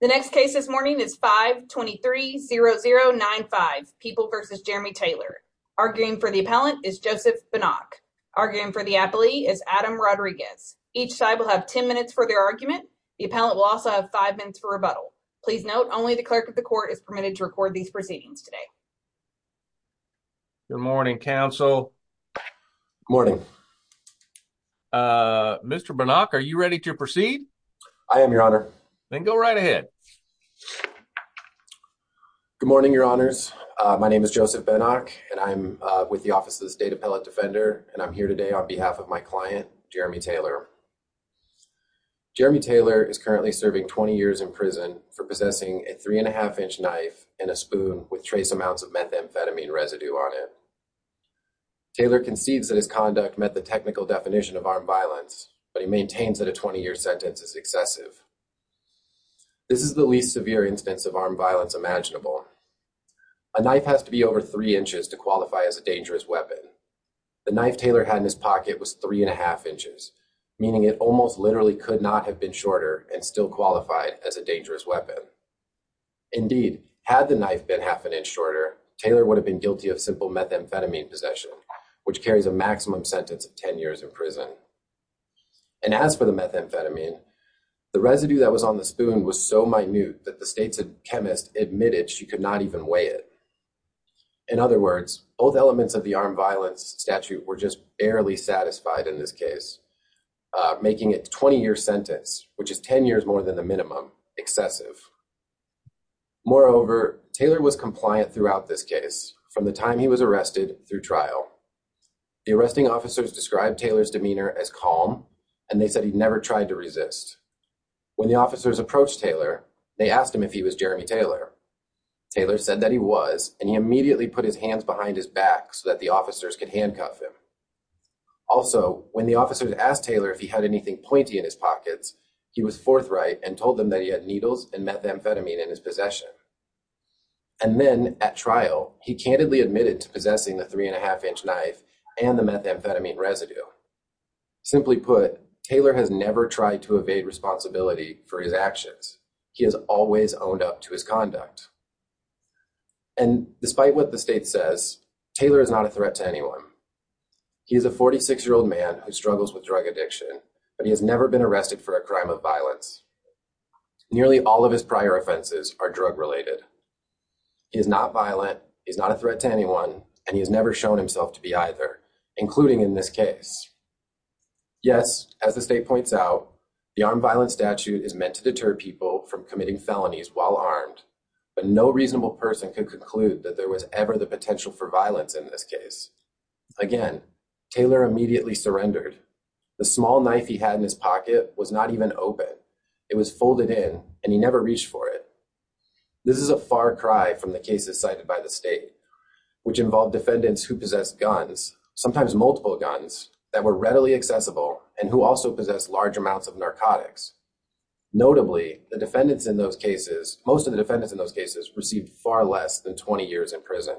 The next case this morning is 523-0095, People v. Jeremy Taylor. Arguing for the appellant is Joseph Banach. Arguing for the applee is Adam Rodriguez. Each side will have 10 minutes for their argument. The appellant will also have 5 minutes for rebuttal. Please note, only the clerk of the court is permitted to record these proceedings today. Good morning, counsel. Morning. Mr. Banach, are you ready to proceed? I am, your honor. Then go right ahead. Good morning, your honors. My name is Joseph Banach, and I'm with the Office of the State Appellate Defender. And I'm here today on behalf of my client, Jeremy Taylor. Jeremy Taylor is currently serving 20 years in prison for possessing a 3-1⁄2-inch knife and a spoon with trace amounts of methamphetamine residue on it. Taylor concedes that his conduct met the technical definition of armed violence, but he maintains that a 20-year sentence is excessive. This is the least severe instance of armed violence imaginable. A knife has to be over 3 inches to qualify as a dangerous weapon. The knife Taylor had in his pocket was 3-1⁄2 inches, meaning it almost literally could not have been shorter and still qualified as a dangerous weapon. Indeed, had the knife been half an inch shorter, Taylor would have been guilty of simple methamphetamine possession, which carries a maximum sentence of 10 years in prison. And as for the methamphetamine, the residue that was on the spoon was so minute that the state's chemist admitted she could not even weigh it. In other words, both elements of the armed violence statute were just barely satisfied in this case, making a 20-year sentence, which is 10 years more than the minimum, excessive. Moreover, Taylor was compliant throughout this case from the time he was arrested through trial. The arresting officers described Taylor's demeanor as calm, and they said he never tried to resist. When the officers approached Taylor, they asked him if he was Jeremy Taylor. Taylor said that he was, and he immediately put his hands behind his back so that the officers could handcuff him. Also, when the officers asked Taylor if he had anything pointy in his pockets, he was forthright and told them that he had needles and methamphetamine in his possession. And then, at trial, he candidly admitted to possessing the three-and-a-half-inch knife and the methamphetamine residue. Simply put, Taylor has never tried to evade responsibility for his actions. He has always owned up to his conduct. And despite what the state says, Taylor is not a threat to anyone. He is a 46-year-old man who struggles with drug addiction, but he has never been arrested for a crime of violence. Nearly all of his prior offenses are drug-related. He is not violent, he is not a threat to anyone, and he has never shown himself to be either, including in this case. Yes, as the state points out, the armed violence statute is meant to deter people from committing felonies while armed, but no reasonable person could conclude that there was ever the potential for violence in this case. Again, Taylor immediately surrendered. The small knife he had in his pocket was not even open. It was folded in, and he never reached for it. This is a far cry from the cases cited by the state, which involved defendants who possessed guns, sometimes multiple guns, that were readily accessible, and who also possessed large amounts of narcotics. Notably, the defendants in those cases, most of the defendants in those cases, received far less than 20 years in prison.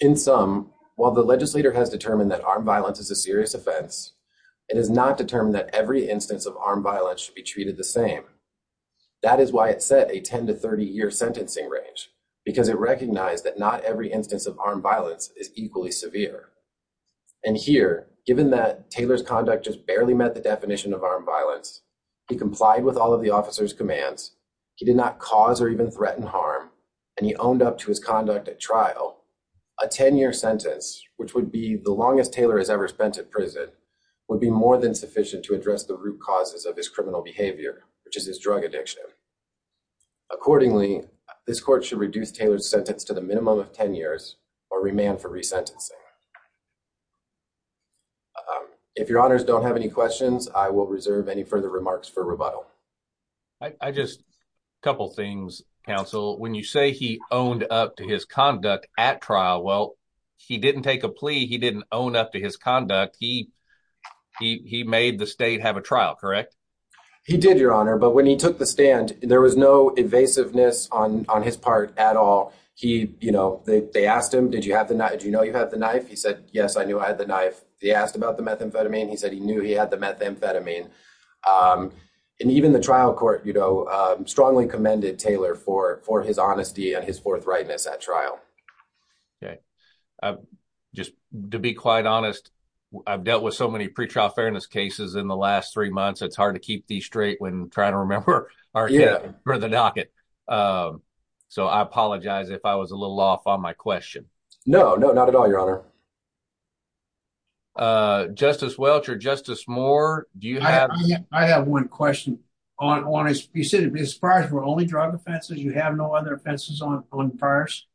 In sum, while the legislator has determined that armed violence is a serious offense, it has not determined that every instance of armed violence should be treated the same. That is why it set a 10- to 30-year sentencing range, because it recognized that not every instance of armed violence is equally severe. And here, given that Taylor's conduct just barely met the definition of armed violence, he complied with all of the officer's commands, he did not cause or even threaten harm, and he owned up to his conduct at trial, a 10-year sentence, which would be the longest Taylor has ever spent in prison, would be more than sufficient to address the root causes of his criminal behavior, which is his drug addiction. Accordingly, this court should reduce Taylor's sentence to the minimum of 10 years, or remand for resentencing. If your honors don't have any questions, I will reserve any further remarks for rebuttal. A couple things, counsel. When you say he owned up to his conduct at trial, well, he didn't take a plea. He didn't own up to his conduct. He made the state have a trial, correct? He did, your honor, but when he took the stand, there was no evasiveness on his part at all. They asked him, did you know you had the knife? He said, yes, I knew I had the knife. They asked about the methamphetamine. He said he knew he had the methamphetamine. Even the trial court strongly commended Taylor for his honesty and his forthrightness at trial. To be quite honest, I've dealt with so many pretrial fairness cases in the last three months, it's hard to keep these straight when trying to remember where to knock it. I apologize if I was a little off on my question. No, not at all, your honor. Justice Welch or Justice Moore, do you have... I have one question. You said his priors were only drug offenses. You have no other offenses on priors?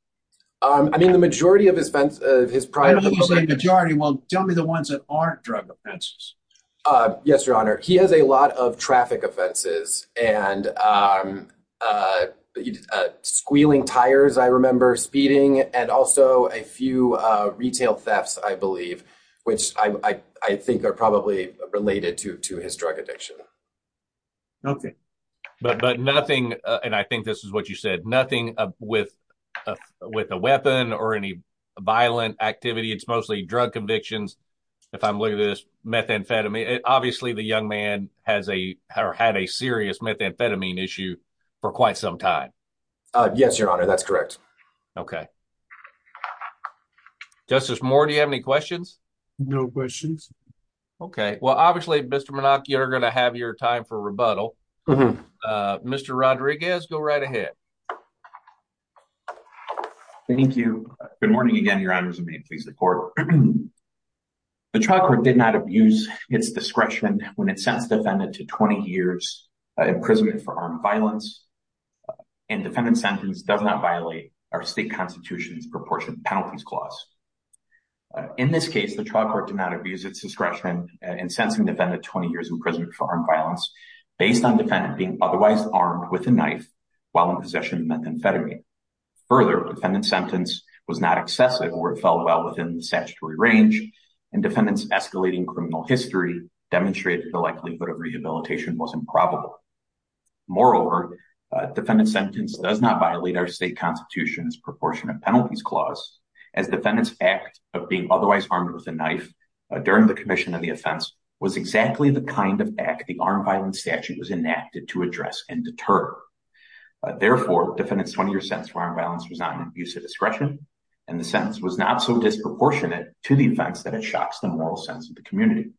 I mean, the majority of his prior... When you say majority, well, tell me the ones that aren't drug offenses. Yes, your honor. He has a lot of traffic offenses and squealing tires, I remember. Speeding and also a few retail thefts, I believe, which I think are probably related to his drug addiction. Okay. But nothing, and I think this is what you said, nothing with a weapon or any violent activity. It's mostly drug convictions. If I'm looking at this, methamphetamine. Obviously, the young man had a serious methamphetamine issue for quite some time. Yes, your honor. That's correct. Okay. Justice Moore, do you have any questions? No questions. Okay. Well, obviously, Mr. Menachia, you're going to have your time for rebuttal. Mr. Rodriguez, go right ahead. Thank you. Good morning again, your honors. May it please the court. The trial court did not abuse its discretion when it sentenced the defendant to 20 years imprisonment for armed violence. And defendant's sentence does not violate our state constitution's proportionate penalties clause. In this case, the trial court did not abuse its discretion in sentencing the defendant to 20 years imprisonment for armed violence based on defendant being otherwise armed with a knife while in possession of methamphetamine. Further, defendant's sentence was not excessive or it fell well within the statutory range and defendant's escalating criminal history demonstrated the likelihood of rehabilitation was improbable. Moreover, defendant's sentence does not violate our state constitution's proportionate penalties clause as defendant's act of being otherwise armed with a knife during the commission of the offense was exactly the kind of act the armed violence statute was enacted to address and deter. was not an abuse of discretion and the sentence was not so disproportionate to the offense that it shocks the moral sense of the community.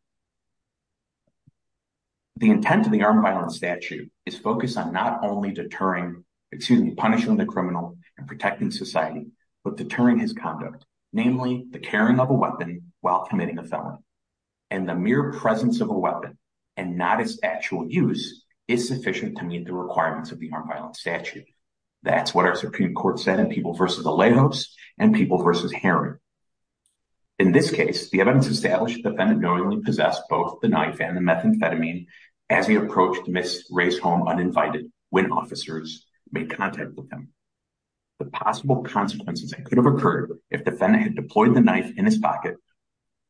The intent of the armed violence statute is focused on not only punishing the criminal and protecting society, but deterring his conduct. Namely, the carrying of a weapon while committing a felony. And the mere presence of a weapon and not its actual use is sufficient to meet the requirements of the armed violence statute. That's what our Supreme Court said in People v. Alejos and People v. Heron. In this case, the evidence established defendant knowingly possessed both the knife and the methamphetamine as he approached Ms. Ray's home uninvited when officers made contact with him. The possible consequences that could have occurred if defendant had deployed the knife in his pocket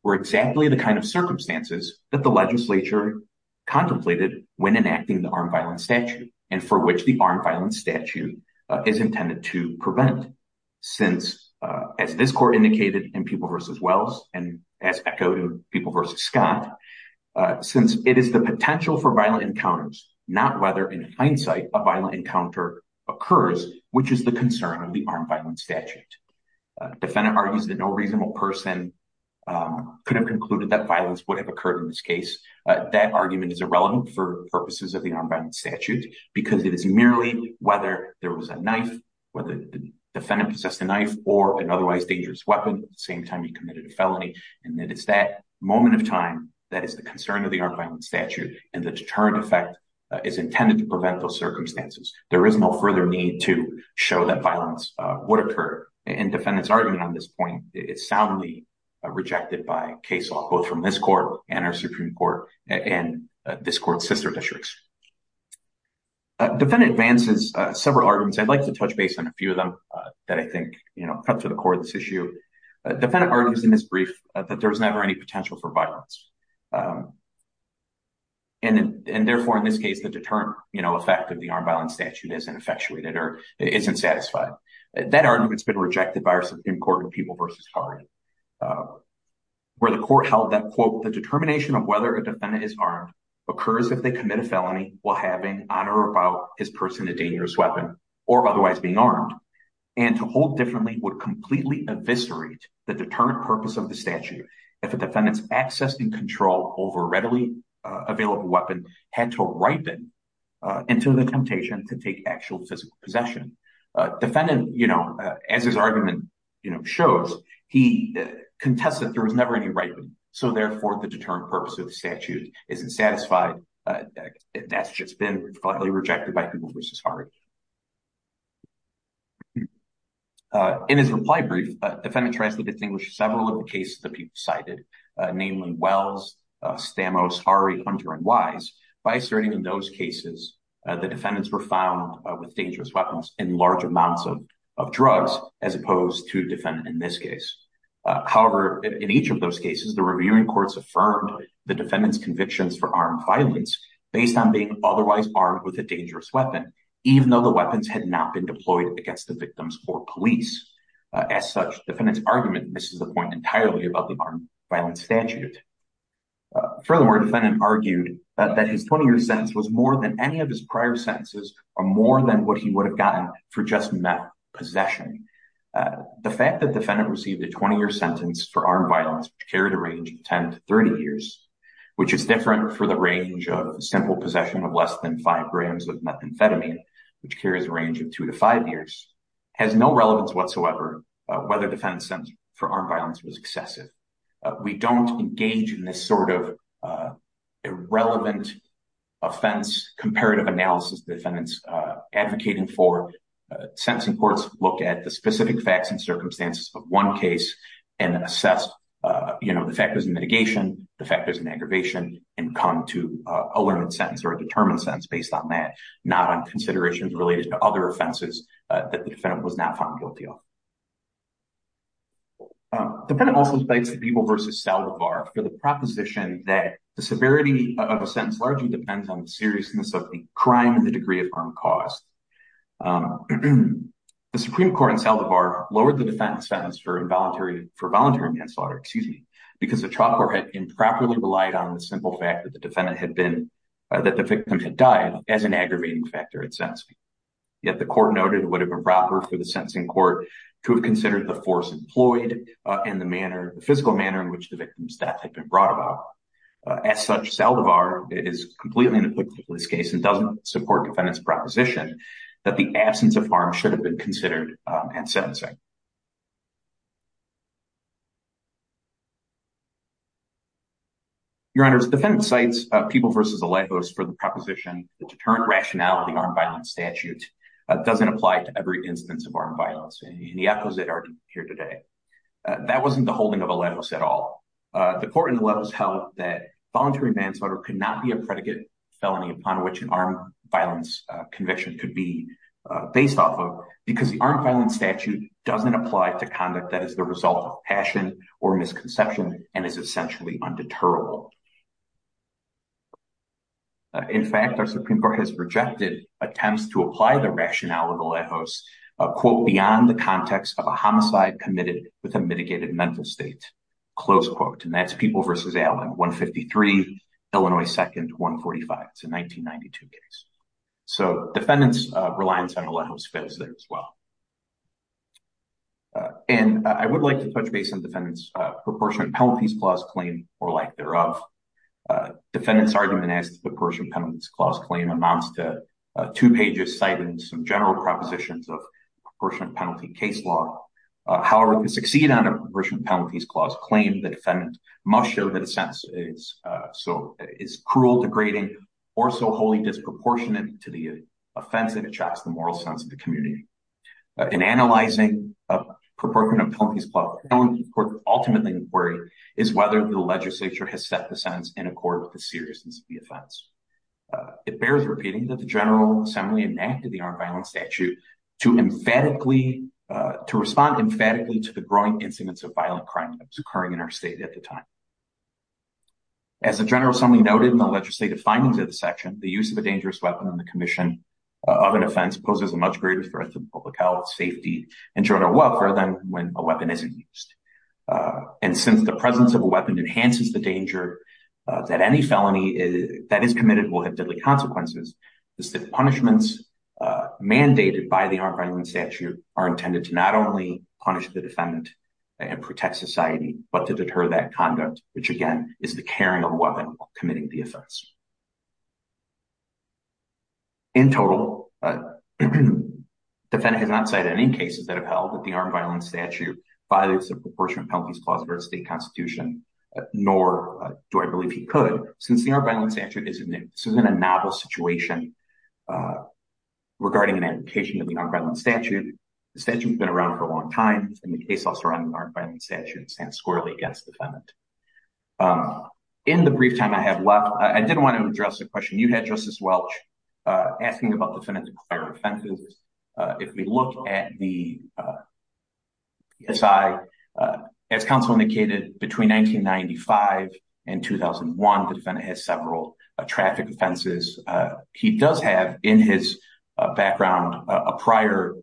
were exactly the kind of circumstances that the legislature contemplated when enacting the armed violence statute and for which the armed violence statute is intended to prevent. Since, as this court indicated in People v. Wells and as echoed in People v. Scott, since it is the potential for violent encounters, not whether in hindsight a violent encounter occurs, which is the concern of the armed violence statute. Defendant argues that no reasonable person could have concluded that violence would have occurred in this case. That argument is irrelevant for purposes of the armed violence statute because it is merely whether there was a knife, whether the defendant possessed a knife or an otherwise dangerous weapon at the same time he committed a felony. It's that moment of time that is the concern of the armed violence statute and the deterrent effect is intended to prevent those circumstances. There is no further need to show that violence would occur. Defendant's argument on this point is soundly rejected by case law, both from this court and our Supreme Court and this court's sister districts. Defendant advances several arguments. I'd like to touch base on a few of them that I think come to the core of this issue. Defendant argues in his brief that there was never any potential for violence and therefore in this case the deterrent effect of the armed violence statute isn't effectuated or isn't satisfied. That argument's been rejected by our Supreme Court in People v. Scott where the court held that, quote, the determination of whether a defendant is armed occurs if they commit a felony while having on or about his person a dangerous weapon or otherwise being armed and to hold differently would completely eviscerate the deterrent purpose of the statute if a defendant's access and control over a readily available weapon had to ripen into the temptation to take actual physical possession. Defendant, as his argument shows, he contests that there was never any ripening so therefore the deterrent purpose of the statute isn't satisfied. That's just been rejected by People v. Harre. In his reply brief, defendant tries to distinguish several of the cases that people cited namely Wells, Stamos, Harre, Hunter, and Wise by asserting in those cases the defendants were found with dangerous weapons and large amounts of drugs as opposed to defendant in this case. However, in each of those cases, the reviewing courts affirmed the defendant's convictions for armed violence based on being otherwise armed with a dangerous weapon even though the weapons had not been deployed against the victims or police. As such, defendant's argument misses the point entirely about the armed violence statute. Furthermore, defendant argued that his 20-year sentence was more than any of his prior sentences or more than what he would have gotten for just metal possession. The fact that defendant received a 20-year sentence for armed violence which carried a range of 10 to 30 years which is different for the range of simple possession of less than 5 grams of methamphetamine which carries a range of 2 to 5 years has no relevance whatsoever whether defendant's sentence for armed violence was excessive. We don't engage in this sort of irrelevant offense or comparative analysis defendants advocating for. Sentencing courts look at the specific facts and circumstances of one case and assess the factors in mitigation, the factors in aggravation, and come to a learned sentence or a determined sentence based on that not on considerations related to other offenses that the defendant was not found guilty of. Defendant also debates the Beeble v. Salovar for the proposition that the severity of a sentence largely depends on the seriousness of the crime and the degree of harm caused. The Supreme Court in Salovar lowered the defendant's sentence for voluntary manslaughter because the trial court had improperly relied on the simple fact that the victim had died as an aggravating factor in sentencing. Yet the court noted it would have been proper for the sentencing court to have considered the force employed and the physical manner in which the victim's death had been brought about. As such, Salovar is completely inapplicable in this case and doesn't support defendant's proposition that the absence of harm should have been considered in sentencing. Your Honors, defendant cites Beeble v. Alejos for the proposition that deterrent rationality armed violence statute doesn't apply to every instance of armed violence and the opposite are here today. That wasn't the holding of Alejos at all. The court in Alejos held that voluntary manslaughter could not be a predicate felony upon which an armed violence conviction could be based off of because the armed violence statute doesn't apply to conduct that is the result of passion or misconception and is essentially undeterrable. In fact, our Supreme Court has rejected attempts to apply the rationality of Alejos quote, beyond the context of a homicide committed with a mitigated mental state, close quote. And that's Beeble v. Alejos, 153, Illinois 2nd, 145. It's a 1992 case. So defendant's reliance on Alejos fits there as well. And I would like to touch base on defendant's proportionate penalties clause claim or like thereof. Defendant's argument as to the proportionate penalties clause claim amounts to two pages citing some general propositions of proportionate penalty case law. However, to succeed on a proportionate penalties clause claim the defendant must show that a sentence is cruel, degrading, or so wholly disproportionate to the offense that attracts the moral sense of the community. In analyzing a proportionate penalties clause claim ultimately inquiry is whether the legislature has set the sentence in accord with the seriousness of the offense. It bears repeating that the General Assembly enacted the armed violence statute to emphatically to respond emphatically to the growing incidents of violent crime that was occurring in our state at the time. As the General Assembly noted in the legislative findings of the section the use of a dangerous weapon on the commission of an offense poses a much greater threat to public health, safety, and general welfare than when a weapon isn't used. And since the presence of a weapon enhances the danger that any felony that is committed will have deadly consequences the punishments mandated by the armed violence statute are intended to not only punish the defendant and protect society, but to deter that conduct which again is the carrying of a weapon while committing the offense. In total, the defendant has not cited any cases that have held that the armed violence statute violates the proportionate penalties clause of our state constitution nor do I believe he could since the armed violence statute is in a novel situation regarding an application of the armed violence statute. The statute has been around for a long time and the case law surrounding the armed violence statute stands squarely against the defendant. In the brief time I have left, I did want to address a question you had, Justice Welch, asking about defendant-acquired offenses. If we look at the PSI, as counsel indicated, between 1995 and 2001 the defendant has several traffic offenses. He does have in his background a prior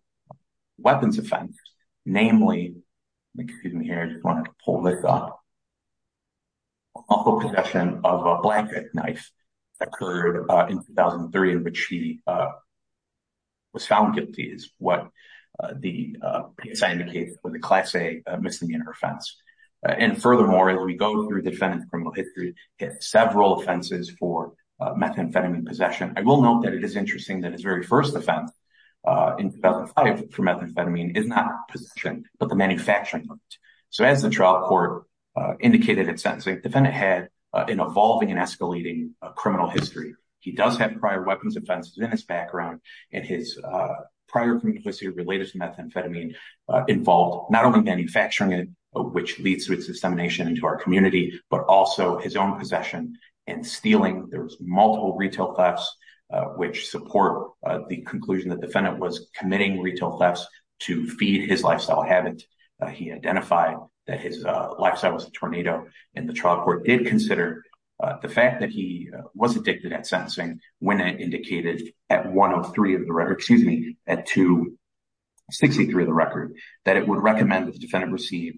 weapons offense, namely, if you can hear, I just wanted to pull this up, the possession of a blanket knife that occurred in 2003 in which he was found guilty is what the PSI indicated was a Class A misdemeanor offense. And furthermore, as we go through the defendant's criminal history he has several offenses for methamphetamine possession. I will note that it is interesting that his very first offense for methamphetamine is not possession but the manufacturing of it. So as the trial court indicated in sentencing, the defendant had an evolving and escalating criminal history. He does have prior weapons offenses in his background and his prior complicity related to methamphetamine involved not only manufacturing it, which leads to its dissemination into our community, but also his own possession and stealing. There was multiple retail thefts which support the conclusion that the defendant was committing retail thefts to feed his lifestyle habit. He identified that his lifestyle was a tornado and the trial court did consider the fact that he was addicted at sentencing when it indicated at 1 of 3 of the record, excuse me, at 2, 63 of the record, that it would recommend that the defendant receive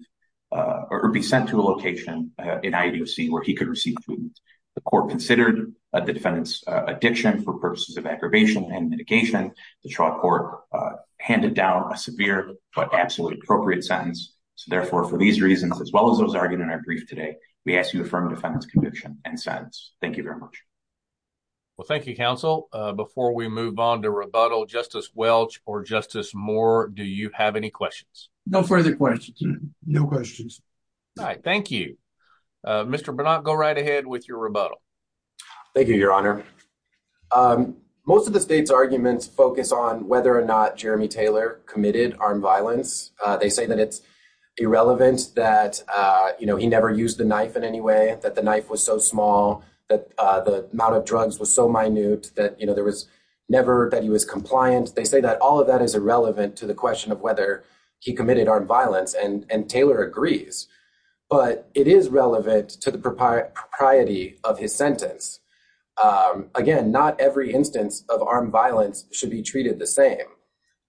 or be sent to a location in IDOC where he could receive treatment. The court considered the defendant's addiction for purposes of aggravation and mitigation. The trial court handed down a severe but absolutely appropriate sentence. So therefore, for these reasons, as well as those argued in our brief today, we ask you to affirm the defendant's conviction and sentence. Thank you very much. Well, thank you, counsel. Before we move on to rebuttal, Justice Welch or Justice Moore, do you have any questions? No further questions. No questions. All right. Thank you. Mr. Bernard, go right ahead with your rebuttal. Thank you, Your Honor. Most of the state's arguments focus on whether or not Jeremy Taylor committed armed violence. They say that it's irrelevant that, you know, he never used the knife in any way, that the knife was so small, that the amount of drugs was so minute, that, you know, there was never that he was compliant. They say that all of that is irrelevant to the question of whether he committed armed violence, and Taylor agrees. But it is relevant to the propriety of his sentence. Again, not every instance of armed violence should be treated the same.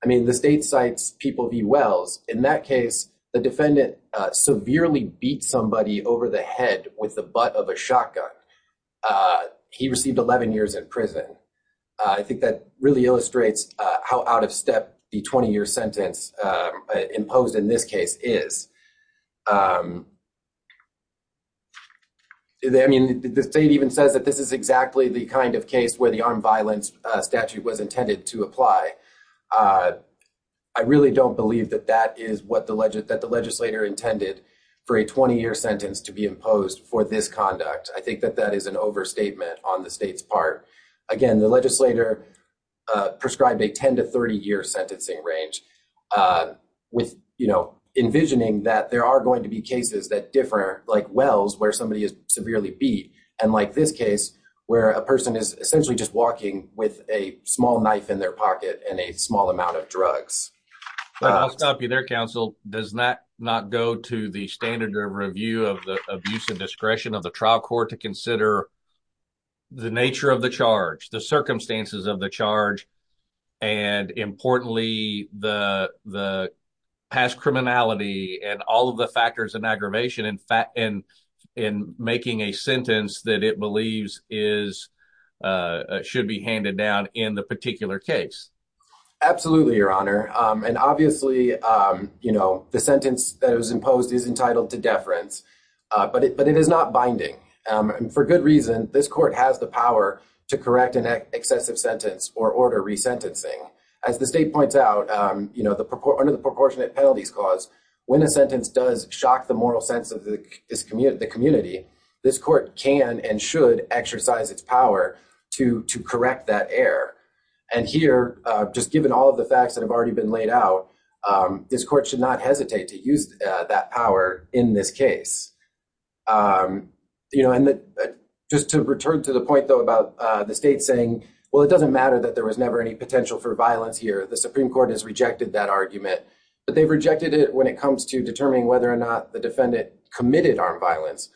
I mean, the state cites people v. Wells. In that case, the defendant severely beat somebody over the head with the butt of a shotgun. He received 11 years in prison. I think that really illustrates how out of step the 20-year sentence imposed in this case is. I mean, the state even says that this is exactly the kind of case where the armed violence statute was intended to apply. I really don't believe that that is what the legislator intended for a 20-year sentence to be imposed for this conduct. I think that that is an overstatement on the state's part. Again, the legislator prescribed a 10- to 30-year sentencing range with envisioning that there are going to be cases that differ, like Wells, where somebody is severely beat, and like this case, where a person is essentially just walking with a small knife in their pocket and a small amount of drugs. I'll stop you there, counsel. Does that not go to the standard of review of the abuse of discretion of the trial court to consider the nature of the charge, the circumstances of the charge, and importantly, the past criminality and all of the factors and aggravation in making a sentence that it believes should be handed down in the particular case? Absolutely, Your Honor. But it is not binding. For good reason, this court has the power to correct an excessive sentence or order resentencing. As the state points out, under the Proportionate Penalties Clause, when a sentence does shock the moral sense of the community, this court can and should exercise its power to correct that error. And here, just given all of the facts that have already been laid out, this court should not hesitate to use that power in this case. Just to return to the point, though, about the state saying, well, it doesn't matter that there was never any potential for violence here. The Supreme Court has rejected that argument, but they've rejected it when it comes to determining whether or not the defendant committed armed violence.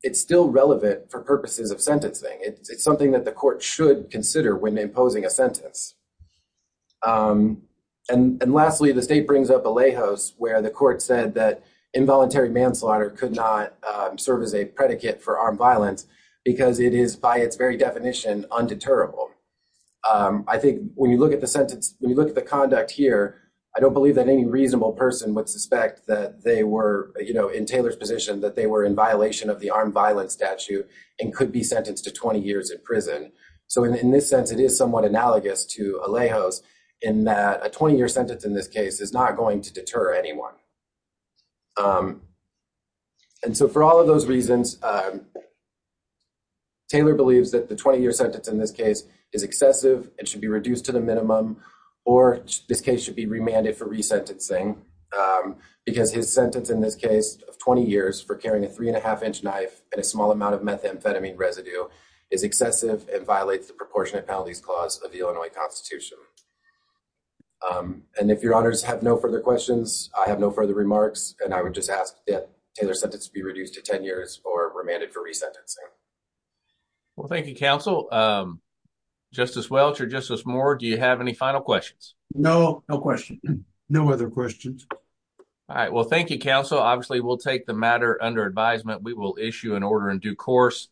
It's still relevant for purposes of sentencing. It's something that the court should consider when imposing a sentence. And lastly, the state brings up Alejos, where the court said that involuntary manslaughter could not serve as a predicate for armed violence because it is, by its very definition, undeterrable. I think when you look at the sentence, when you look at the conduct here, I don't believe that any reasonable person would suspect that they were, you know, in Taylor's position, that they were in violation of the armed violence statute and could be sentenced to 20 years in prison. So in this sense, it is somewhat analogous to Alejos, in that a 20-year sentence in this case is not going to deter anyone. And so for all of those reasons, Taylor believes that the 20-year sentence in this case is excessive and should be reduced to the minimum, or this case should be remanded for resentencing because his sentence, in this case, of 20 years for carrying a three-and-a-half-inch knife and a small amount of methamphetamine residue is excessive and violates the proportionate penalties clause of the Illinois Constitution. And if your honors have no further questions, I have no further remarks, and I would just ask that Taylor's sentence be reduced to 10 years or remanded for resentencing. Well, thank you, Counsel. Justice Welch or Justice Moore, do you have any final questions? No, no questions. No other questions. All right. Well, thank you, Counsel. Obviously we'll take the matter under advisement. We will issue an order in due course.